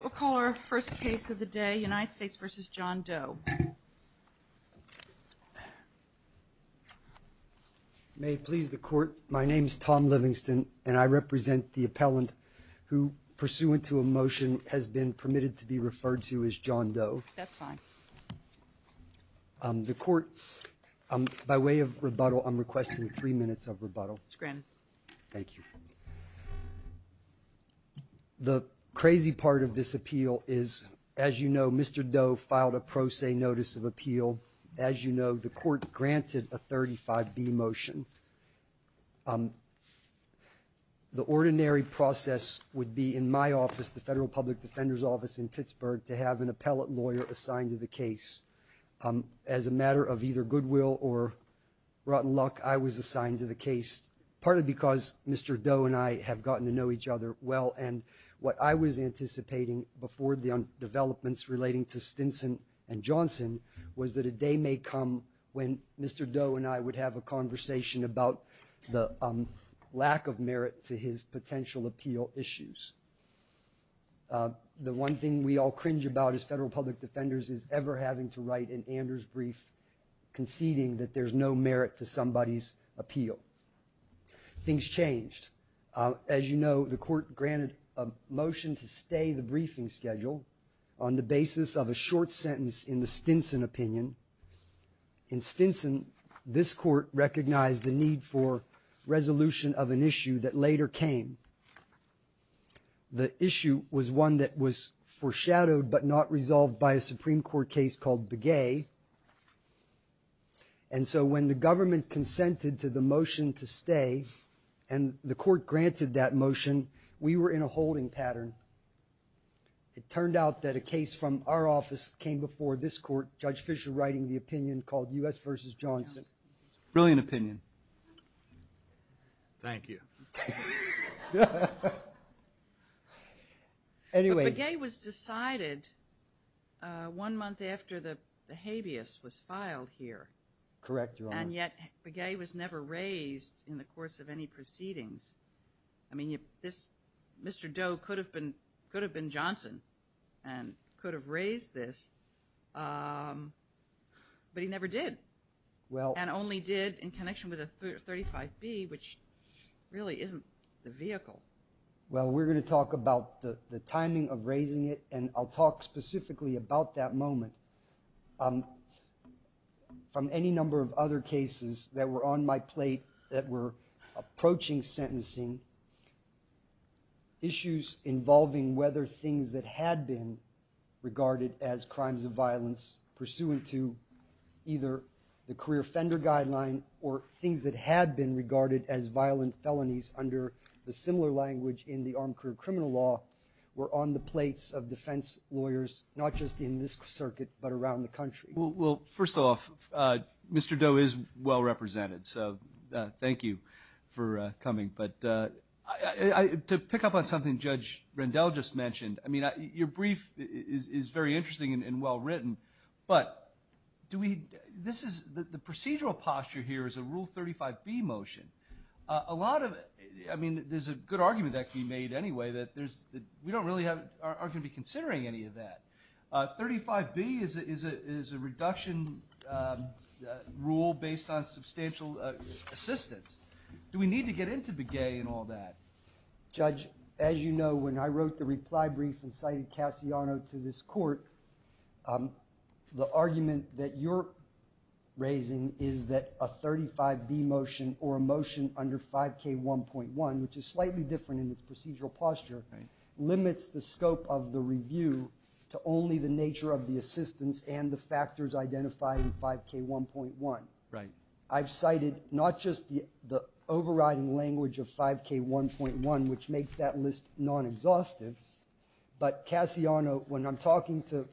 We'll call our first case of the day, United States v. John Doe. May it please the Court, my name is Tom Livingston, and I represent the appellant who, pursuant to a motion, has been permitted to be referred to as John Doe. The Court, by way of rebuttal, I'm requesting three minutes of rebuttal. The crazy part of this appeal is, as you know, Mr. Doe filed a pro se notice of appeal. As you know, the Court granted a 35B motion. The ordinary process would be, in my office, the Federal Public Defender's Office in As a matter of either goodwill or rotten luck, I was assigned to the case, partly because Mr. Doe and I have gotten to know each other well, and what I was anticipating before the developments relating to Stinson and Johnson was that a day may come when Mr. Doe and I would have a conversation about the lack of merit to his potential appeal issues. The one thing we all cringe about as federal public defenders is ever having to write an Anders brief conceding that there's no merit to somebody's appeal. Things changed. As you know, the Court granted a motion to stay the briefing schedule on the basis of a short sentence in the Stinson opinion. In Stinson, this Court recognized the need for resolution of an issue that later came. The issue was one that was foreshadowed but not resolved by a Supreme Court case called Begay, and so when the government consented to the motion to stay, and the Court granted that motion, we were in a holding pattern. It turned out that a case from our office came before this Court, Judge Fischer writing the opinion called U.S. v. Johnson. Brilliant opinion. Thank you. But Begay was decided one month after the habeas was filed here, and yet Begay was never raised in the course of any proceedings. I mean, Mr. Doe could have been Johnson and could have raised this, but he never did, and only did in connection with a 35B, which really isn't the vehicle. Well, we're going to talk about the timing of raising it, and I'll talk specifically about that moment. From any number of other cases that were on my plate that were approaching sentencing, issues involving whether things that had been regarded as crimes of violence pursuant to either the career offender guideline or things that had been regarded as violent felonies under the similar language in the armed career criminal law were on the plates of defense lawyers, not just in this circuit, but around the country. Well, first off, Mr. Doe is well-represented, so thank you for coming. But to pick up on something Judge Rendell just mentioned, I mean, your brief is very interesting and well-written, but the procedural posture here is a Rule 35B motion. A lot of it, I mean, there's a good argument that can be made anyway that we don't really are going to be considering any of that. 35B is a reduction rule based on substantial assistance. Do we need to get into Begay and all that? Judge, as you know, when I wrote the reply brief and cited Cassiano to this court, the argument that you're raising is that a 35B motion or a motion under 5K1.1, which is slightly different in its procedural posture, limits the scope of the review to only the nature of the assistance and the factors identified in 5K1.1. I've cited not just the overriding language of 5K1.1, which makes that list non-exhaustive, but Cassiano, when I'm talking to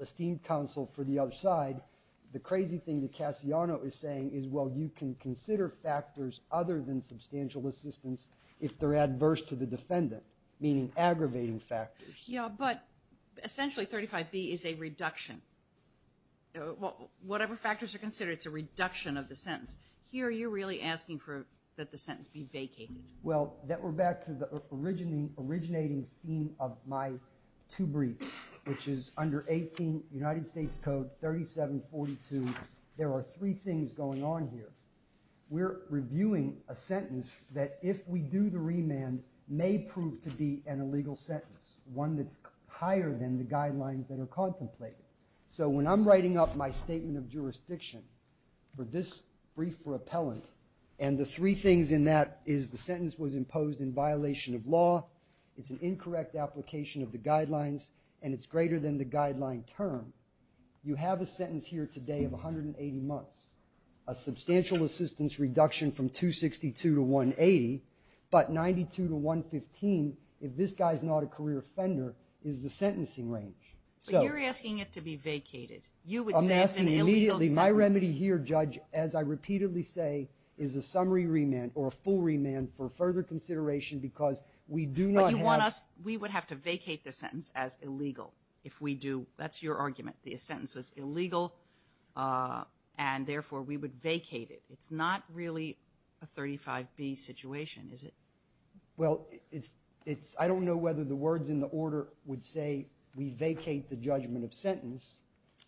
esteemed counsel for the other side, the crazy thing that Cassiano is saying is, well, you can consider factors other than substantial assistance if they're adverse to the defendant, meaning aggravating factors. Yeah, but essentially 35B is a reduction. Whatever factors are considered, it's a reduction of the sentence. Here you're really asking for that the sentence be vacated. Well, we're back to the originating theme of my two briefs, which is under 18 United States Code 3742, there are three things going on here. We're reviewing a sentence that if we do the remand may prove to be an illegal sentence, one that's higher than the guidelines that are contemplated. So when I'm writing up my statement of jurisdiction for this brief for appellant, and the three things in that is the sentence was imposed in violation of law, it's an incorrect application of the guidelines, and it's greater than the guideline term, you have a sentence here today of 180 months. A substantial assistance reduction from 262 to 180, but 92 to 115, if this guy's not a career offender, is the sentencing range. So you're asking it to be vacated. You would say it's an illegal sentence. I'm asking immediately, my remedy here, Judge, as I repeatedly say, is a summary remand or a full remand for further consideration because we do not have... But you want us, we would have to vacate the sentence as illegal if we do. That's your argument. The sentence was illegal, and therefore, we would vacate it. It's not really a 35B situation, is it? Well, it's... I don't know whether the words in the order would say we vacate the judgment of sentence,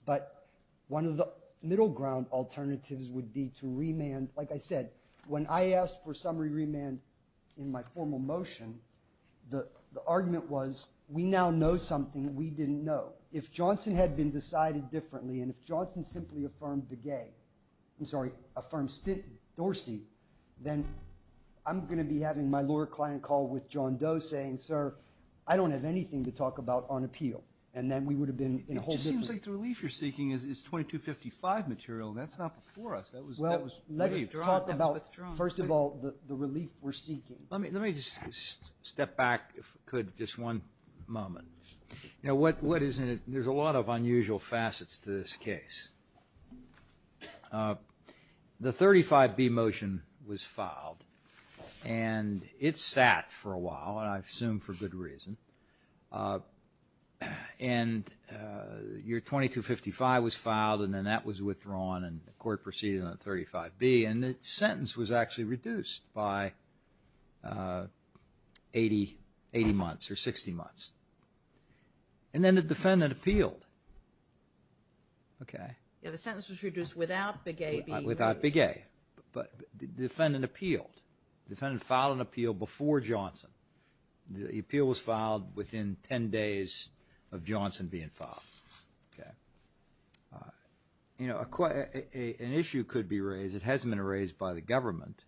but one of the middle ground alternatives would be to remand. Like I said, when I asked for summary remand in my formal motion, the argument was we now know something we didn't know. Well, if Johnson had been decided differently, and if Johnson simply affirmed the gay, I'm sorry, affirmed Dorsey, then I'm going to be having my lawyer client call with John Doe saying, sir, I don't have anything to talk about on appeal. And then we would have been in a whole different... It just seems like the relief you're seeking is 2255 material. That's not before us. That was... Well, let's talk about... That was withdrawn. First of all, the relief we're seeking. Let me just step back, if I could, just one moment. You know, what is in it, there's a lot of unusual facets to this case. The 35B motion was filed, and it sat for a while, and I assume for good reason. And your 2255 was filed, and then that was withdrawn, and the court proceeded on 35B, and the sentence was actually reduced by 80 months, or 60 months. And then the defendant appealed. Okay. Yeah, the sentence was reduced without the gay being raised. Without the gay. But the defendant appealed. The defendant filed an appeal before Johnson. The appeal was filed within 10 days of Johnson being filed. Okay. You know, an issue could be raised. It hasn't been raised by the government,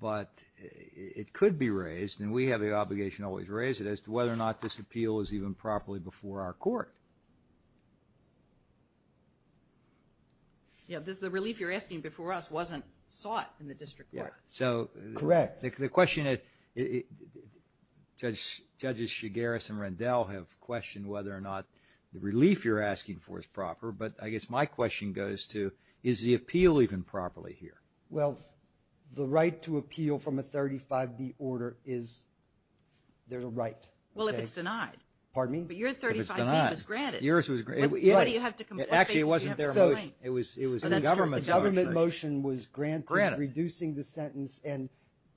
but it could be raised, and we have the obligation to always raise it, as to whether or not this appeal is even properly before our court. Yeah, the relief you're asking before us wasn't sought in the district court. Correct. So, the question is, Judges Chigaris and Rendell have questioned whether or not the relief you're asking for is proper, but I guess my question goes to, is the appeal even properly here? Well, the right to appeal from a 35B order is, there's a right. Well, if it's denied. Pardon me? But your 35B was granted. If it's denied. Yours was, yeah. Why do you have to comply? Actually, it wasn't their motion. It was the government's motion. So, the government motion was granted, reducing the sentence, and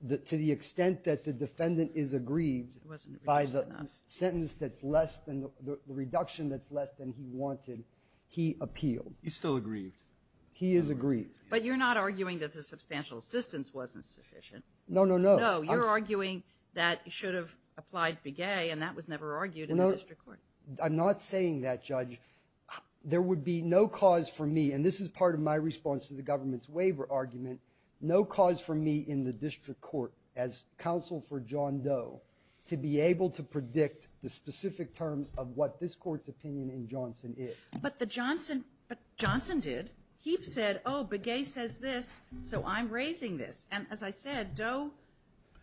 to the extent that the defendant is aggrieved by the sentence that's less than, the reduction that's less than he wanted, he appealed. He's still aggrieved. He is aggrieved. But you're not arguing that the substantial assistance wasn't sufficient. No, no, no. No, you're arguing that you should have applied Big A, and that was never argued in the district court. I'm not saying that, Judge. There would be no cause for me, and this is part of my response to the government's waiver argument, no cause for me in the district court, as counsel for John Doe, to be able to predict the specific terms of what this court's opinion in Johnson is. But the Johnson, but Johnson did. He said, oh, Big A says this, so I'm raising this, and as I said, Doe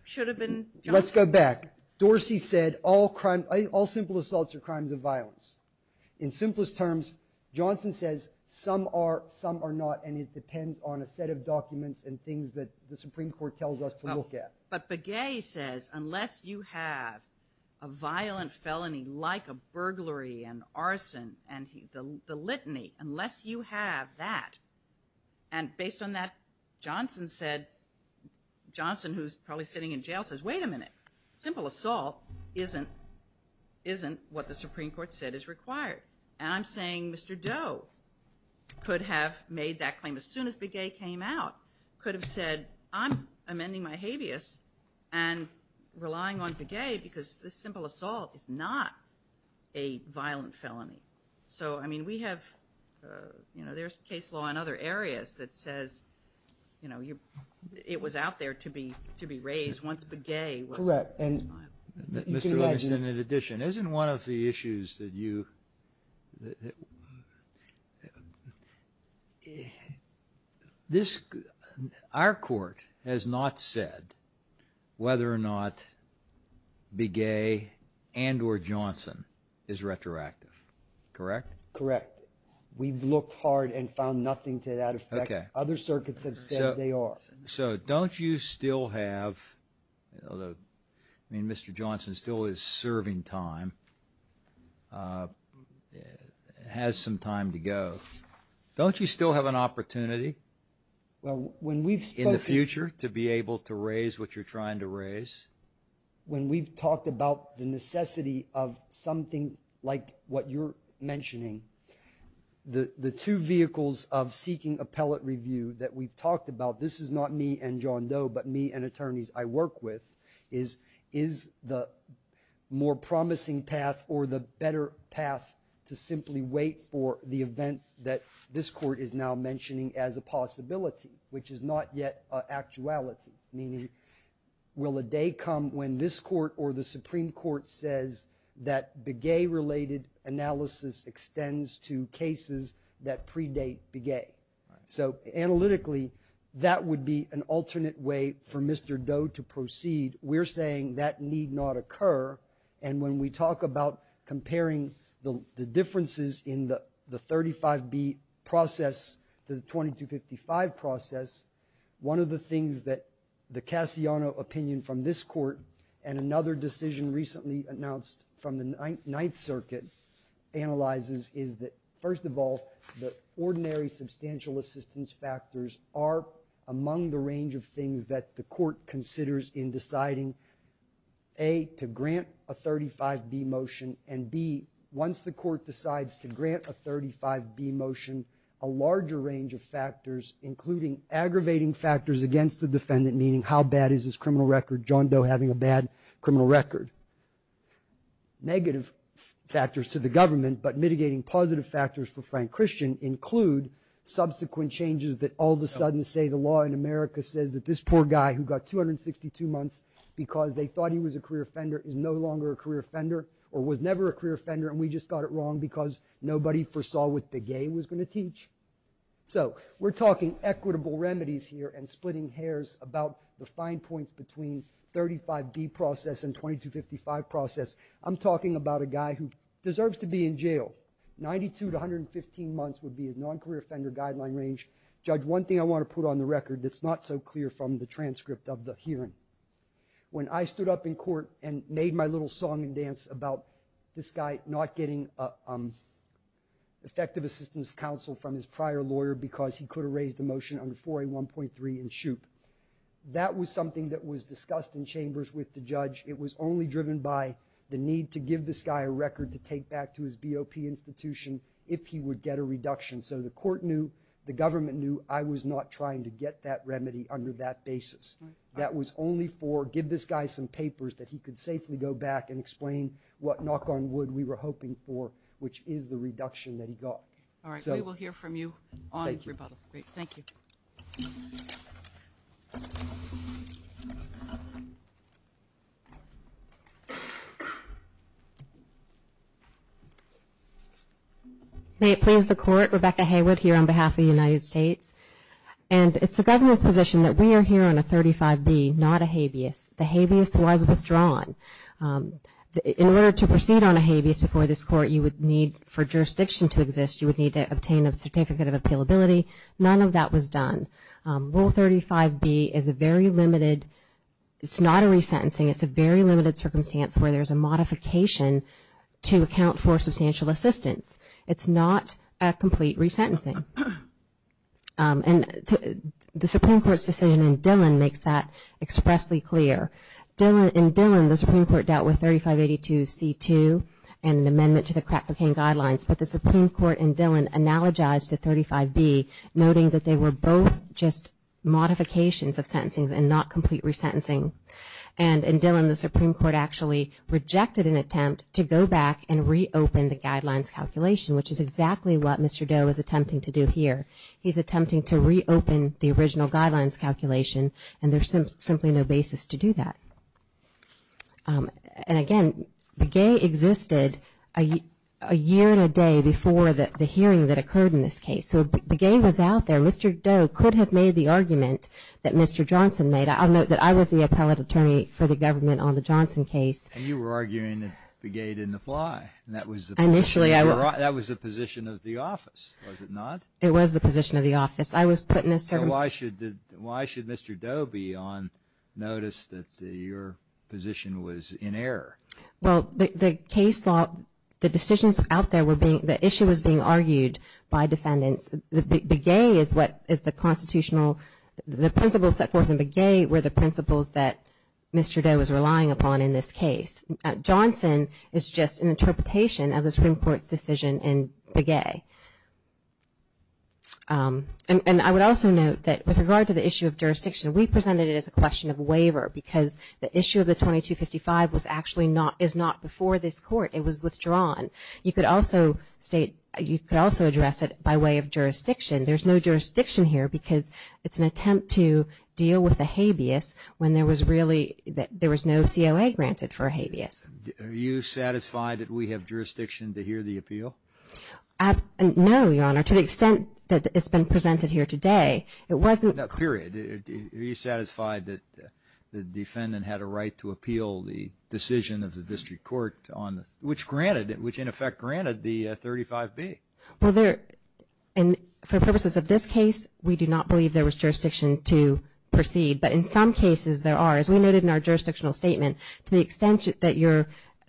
should have been Johnson. Let's go back. Dorsey said all crime, all simple assaults are crimes of violence. In simplest terms, Johnson says some are, some are not, and it depends on a set of documents and things that the Supreme Court tells us to look at. But Big A says, unless you have a violent felony like a burglary and arson and the litany, unless you have that, and based on that, Johnson said, Johnson, who's probably sitting in jail, says, wait a minute. Simple assault isn't, isn't what the Supreme Court said is required, and I'm saying Mr. Doe could have made that claim as soon as Big A came out, could have said, I'm amending my habeas and relying on Big A because this simple assault is not a violent felony. So I mean, we have, you know, there's case law in other areas that says, you know, it was out there to be, to be raised once Big A was, was filed. Correct. And you can imagine. Mr. Rubenstein, in addition, isn't one of the issues that you, this, our court has not said whether or not Big A and or Johnson is retroactive, correct? Correct. We've looked hard and found nothing to that effect. Other circuits have said they are. So don't you still have, I mean, Mr. Johnson still is serving time, has some time to go. Don't you still have an opportunity in the future to be able to raise what you're trying to raise? When we've talked about the necessity of something like what you're mentioning, the two vehicles of seeking appellate review that we've talked about, this is not me and John Doe, but me and attorneys I work with is, is the more promising path or the better path to simply wait for the event that this court is now mentioning as a possibility, which is not yet actuality, meaning will a day come when this court or the Supreme Court says that Big A related analysis extends to cases that predate Big A. So analytically, that would be an alternate way for Mr. Doe to proceed. We're saying that need not occur. And when we talk about comparing the differences in the 35B process to the 2255 process, one of the things that the Cassiano opinion from this court and another decision recently announced from the Ninth Circuit analyzes is that, first of all, the ordinary substantial assistance factors are among the range of things that the court considers in deciding, A, to grant a 35B motion, and B, once the court decides to grant a 35B motion, a larger range of factors, including aggravating factors against the defendant, meaning how bad is his criminal record, negative factors to the government, but mitigating positive factors for Frank Christian include subsequent changes that all of a sudden say the law in America says that this poor guy who got 262 months because they thought he was a career offender is no longer a career offender or was never a career offender and we just got it wrong because nobody foresaw what Big A was going to teach. So we're talking equitable remedies here and splitting hairs about the fine points between 35B process and 2255 process. I'm talking about a guy who deserves to be in jail, 92 to 115 months would be his non-career offender guideline range. Judge, one thing I want to put on the record that's not so clear from the transcript of the hearing, when I stood up in court and made my little song and dance about this guy not getting effective assistance counsel from his prior lawyer because he could have raised a motion under 4A1.3 and shoot. That was something that was discussed in chambers with the judge. It was only driven by the need to give this guy a record to take back to his BOP institution if he would get a reduction. So the court knew, the government knew I was not trying to get that remedy under that basis. That was only for give this guy some papers that he could safely go back and explain what knock on wood we were hoping for, which is the reduction that he got. All right, we will hear from you on rebuttal. Thank you. May it please the court, Rebecca Haywood here on behalf of the United States. And it's the government's position that we are here on a 35B, not a habeas. The habeas was withdrawn. In order to proceed on a habeas before this court, you would need for jurisdiction to exist, you would need to obtain a certificate of appealability. None of that was done. Rule 35B is a very limited, it's not a resentencing, it's a very limited circumstance where there is a modification to account for substantial assistance. It's not a complete resentencing. And the Supreme Court's decision in Dillon makes that expressly clear. In Dillon, the Supreme Court dealt with 3582C2 and an amendment to the crack cocaine guidelines, but the Supreme Court in Dillon analogized to 35B, noting that they were both just modifications of sentencing and not complete resentencing. And in Dillon, the Supreme Court actually rejected an attempt to go back and reopen the guidelines calculation, which is exactly what Mr. Doe is attempting to do here. He's attempting to reopen the original guidelines calculation, and there's simply no basis to do that. And again, Begay existed a year and a day before the hearing that occurred in this case. So Begay was out there. Mr. Doe could have made the argument that Mr. Johnson made. I'll note that I was the appellate attorney for the government on the Johnson case. And you were arguing that Begay didn't apply, and that was the position of the office, was it not? It was the position of the office. I was put in a circumstance. So why should Mr. Doe be on notice that your position was in error? Well, the case law, the decisions out there were being, the issue was being argued by defendants. Begay is what is the constitutional, the principles set forth in Begay were the principles that Mr. Doe was relying upon in this case. Johnson is just an interpretation of the Supreme Court's decision in Begay. And I would also note that with regard to the issue of jurisdiction, we presented it as a question of waiver because the issue of the 2255 was actually not, is not before this court. It was withdrawn. You could also state, you could also address it by way of jurisdiction. There's no jurisdiction here because it's an attempt to deal with a habeas when there was really, there was no COA granted for a habeas. Are you satisfied that we have jurisdiction to hear the appeal? No, Your Honor. To the extent that it's been presented here today, it wasn't. Period. Are you satisfied that the defendant had a right to appeal the decision of the district court on the, which granted, which in effect granted the 35B? Well, there, and for purposes of this case, we do not believe there was jurisdiction to proceed. But in some cases there are. As we noted in our jurisdictional statement, to the extent that you're,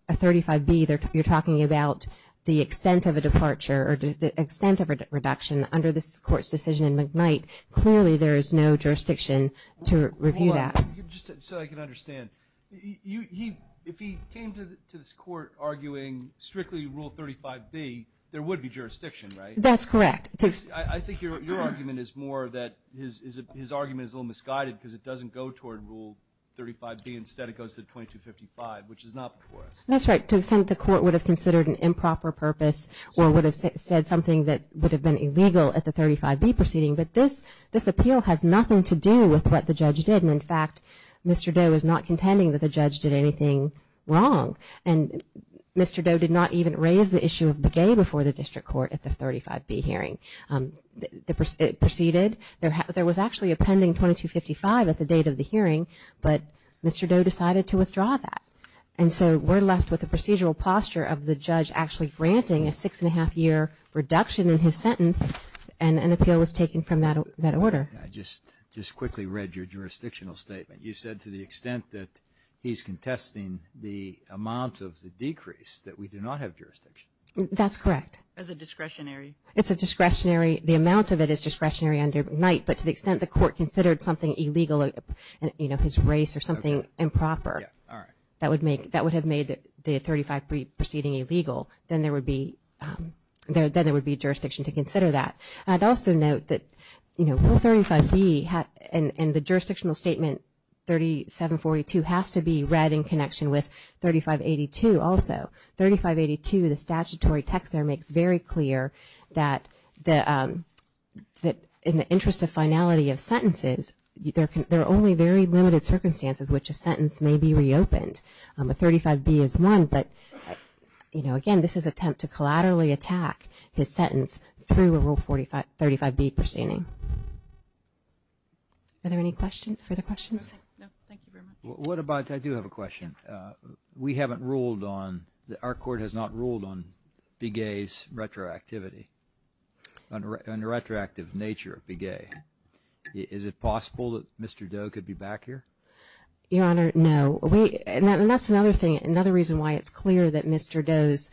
a 35B, you're talking about the extent of a departure or the extent of a reduction under this court's decision in McKnight, clearly there is no jurisdiction to review that. Hold on. Just so I can understand, you, he, if he came to this court arguing strictly Rule 35B, there would be jurisdiction, right? That's correct. I think your argument is more that his argument is a little misguided because it doesn't go toward Rule 35B. Instead, it goes to 2255, which is not before us. That's right. To the extent that the court would have considered an improper purpose or would have said something that would have been illegal at the 35B proceeding, but this, this appeal has nothing to do with what the judge did. And in fact, Mr. Doe is not contending that the judge did anything wrong. And Mr. Doe did not even raise the issue of Begay before the district court at the 35B hearing. It proceeded, there was actually a pending 2255 at the date of the hearing, but Mr. Doe decided to withdraw that. And so we're left with a procedural posture of the judge actually granting a six and a half year reduction in his sentence and an appeal was taken from that, that order. I just, just quickly read your jurisdictional statement. You said to the extent that he's contesting the amount of the decrease that we do not have jurisdiction. That's correct. As a discretionary? It's a discretionary, the amount of it is discretionary under Knight, but to the extent the court considered something illegal, you know, his race or something improper. Yeah, all right. That would make, that would have made the 35B proceeding illegal. Then there would be, then there would be jurisdiction to consider that. I'd also note that, you know, 35B and the jurisdictional statement 3742 has to be read in connection with 3582 also, 3582, the statutory text there makes very clear that the, that in the interest of finality of sentences, there can, there are only very limited circumstances which a sentence may be reopened. A 35B is one, but, you know, again, this is an attempt to collaterally attack his sentence through a Rule 45, 35B proceeding. Are there any questions, further questions? No, thank you very much. What about, I do have a question. We haven't ruled on, our court has not ruled on Begay's retroactivity, on the retroactive nature of Begay. Is it possible that Mr. Doe could be back here? Your Honor, no. We, and that's another thing, another reason why it's clear that Mr. Doe's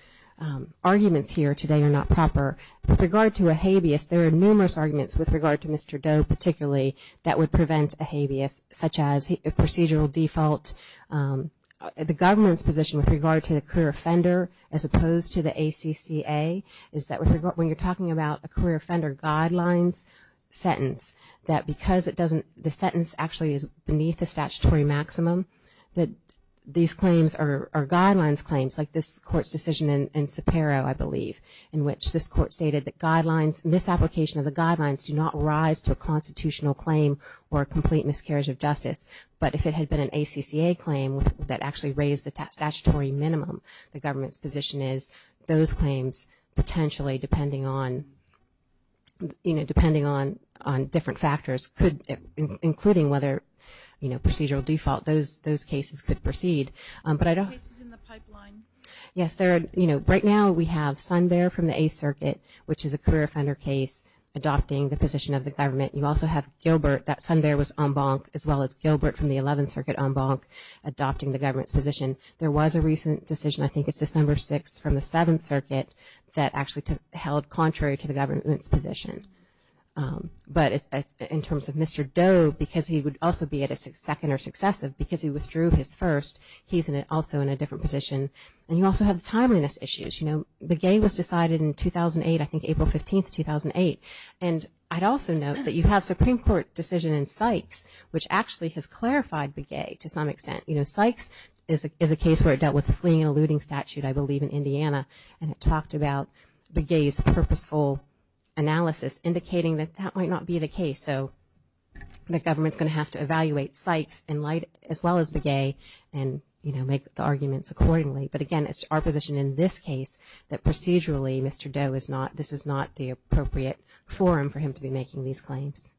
arguments here today are not proper. With regard to a habeas, there are numerous arguments with regard to Mr. Doe, particularly, that would prevent a habeas, such as a procedural default, the government's position with regard to the career offender, as opposed to the ACCA, is that when you're talking about a sentence, that because it doesn't, the sentence actually is beneath the statutory maximum, that these claims are guidelines claims, like this Court's decision in Sapero, I believe, in which this Court stated that guidelines, misapplication of the guidelines do not rise to a constitutional claim or a complete miscarriage of justice. But if it had been an ACCA claim that actually raised the statutory minimum, the government's position is, those claims, potentially, depending on, you know, depending on different factors, including whether, you know, procedural default, those cases could proceed, but I don't. Cases in the pipeline. Yes, there are, you know, right now we have Sundbear from the Eighth Circuit, which is a career offender case, adopting the position of the government. You also have Gilbert, that Sundbear was en banc, as well as Gilbert from the Eleventh Circuit en banc, adopting the government's position. There was a recent decision, I think it's December 6th, from the Seventh Circuit, that actually held contrary to the government's position. But in terms of Mr. Doe, because he would also be at a second or successive, because he withdrew his first, he's also in a different position. And you also have the timeliness issues, you know, Begay was decided in 2008, I think April 15th, 2008, and I'd also note that you have Supreme Court decision in Sykes, which actually has clarified Begay, to some extent. You know, Sykes is a case where it dealt with fleeing and eluding statute, I believe, in Indiana, and it talked about Begay's purposeful analysis, indicating that that might not be the case. So, the government's going to have to evaluate Sykes as well as Begay, and, you know, make the arguments accordingly. But again, it's our position in this case, that procedurally, Mr. Doe is not, this is not the appropriate forum for him to be making these claims.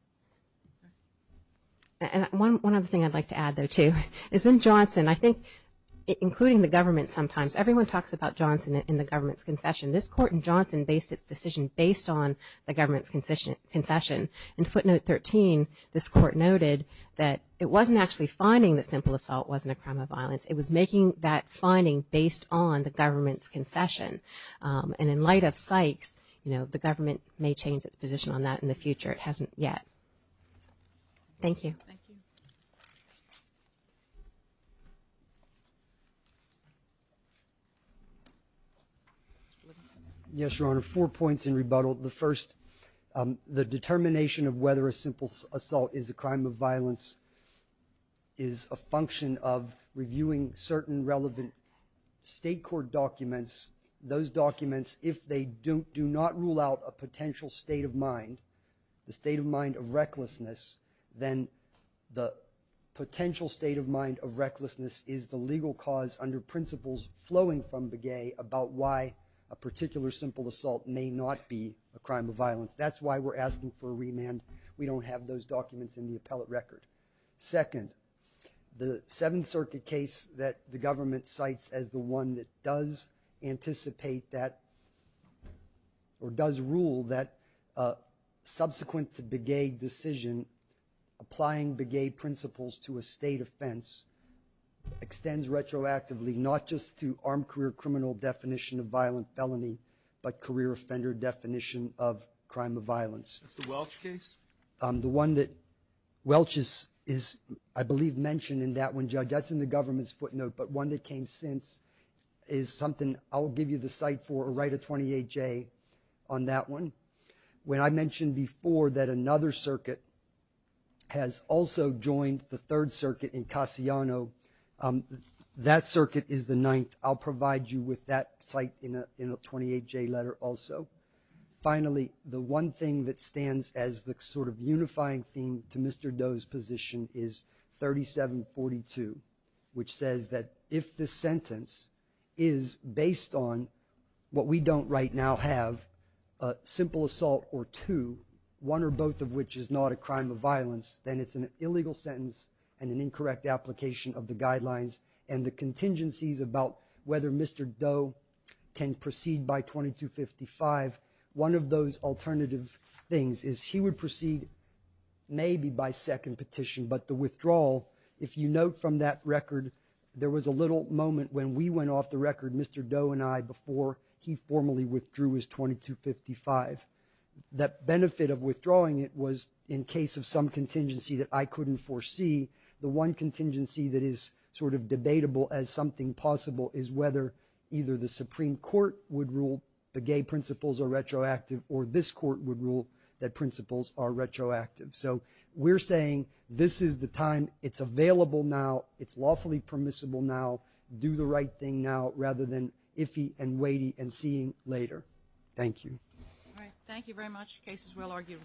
And one other thing I'd like to add, though, too, is in Johnson, I think, including the government sometimes, everyone talks about Johnson in the government's concession. This court in Johnson based its decision based on the government's concession. In footnote 13, this court noted that it wasn't actually finding that simple assault wasn't a crime of violence, it was making that finding based on the government's concession. And in light of Sykes, you know, the government may change its position on that in the future, it hasn't yet. Thank you. Thank you. Yes, Your Honor, four points in rebuttal. The first, the determination of whether a simple assault is a crime of violence is a function of reviewing certain relevant state court documents. Those documents, if they do not rule out a potential state of mind, the state of mind of recklessness, then the potential state of mind of recklessness is the legal cause under principles flowing from Begay about why a particular simple assault may not be a crime of violence. That's why we're asking for a remand. We don't have those documents in the appellate record. Second, the Seventh Circuit case that the government cites as the one that does anticipate that or does rule that subsequent to Begay decision, applying Begay principles to a state offense extends retroactively not just to armed career criminal definition of violent felony, but career offender definition of crime of violence. That's the Welch case? The one that Welch is, I believe, mentioned in that one, Judge. That's in the government's footnote, but one that came since is something I'll give you the cite for or write a 28-J on that one. When I mentioned before that another circuit has also joined the Third Circuit in Cassiano, that circuit is the ninth. I'll provide you with that cite in a 28-J letter also. Finally, the one thing that stands as the sort of unifying theme to Mr. Doe's position is 3742, which says that if the sentence is based on what we don't right now have, a simple assault or two, one or both of which is not a crime of violence, then it's an illegal sentence and an incorrect application of the guidelines and the contingencies about whether Mr. Doe can proceed by 2255, one of those alternative things is he would proceed maybe by second petition, but the withdrawal, if you note from that record, there was a little moment when we went off the record, Mr. Doe and I, before he formally withdrew his 2255. That benefit of withdrawing it was in case of some contingency that I couldn't foresee, the one contingency that is sort of debatable as something possible is whether either the Supreme Court would rule the gay principles are retroactive or this court would rule that principles are retroactive. So we're saying this is the time, it's available now, it's lawfully permissible now, do the right thing now rather than iffy and weighty and seeing later. Thank you. All right. Thank you very much. The case is well argued.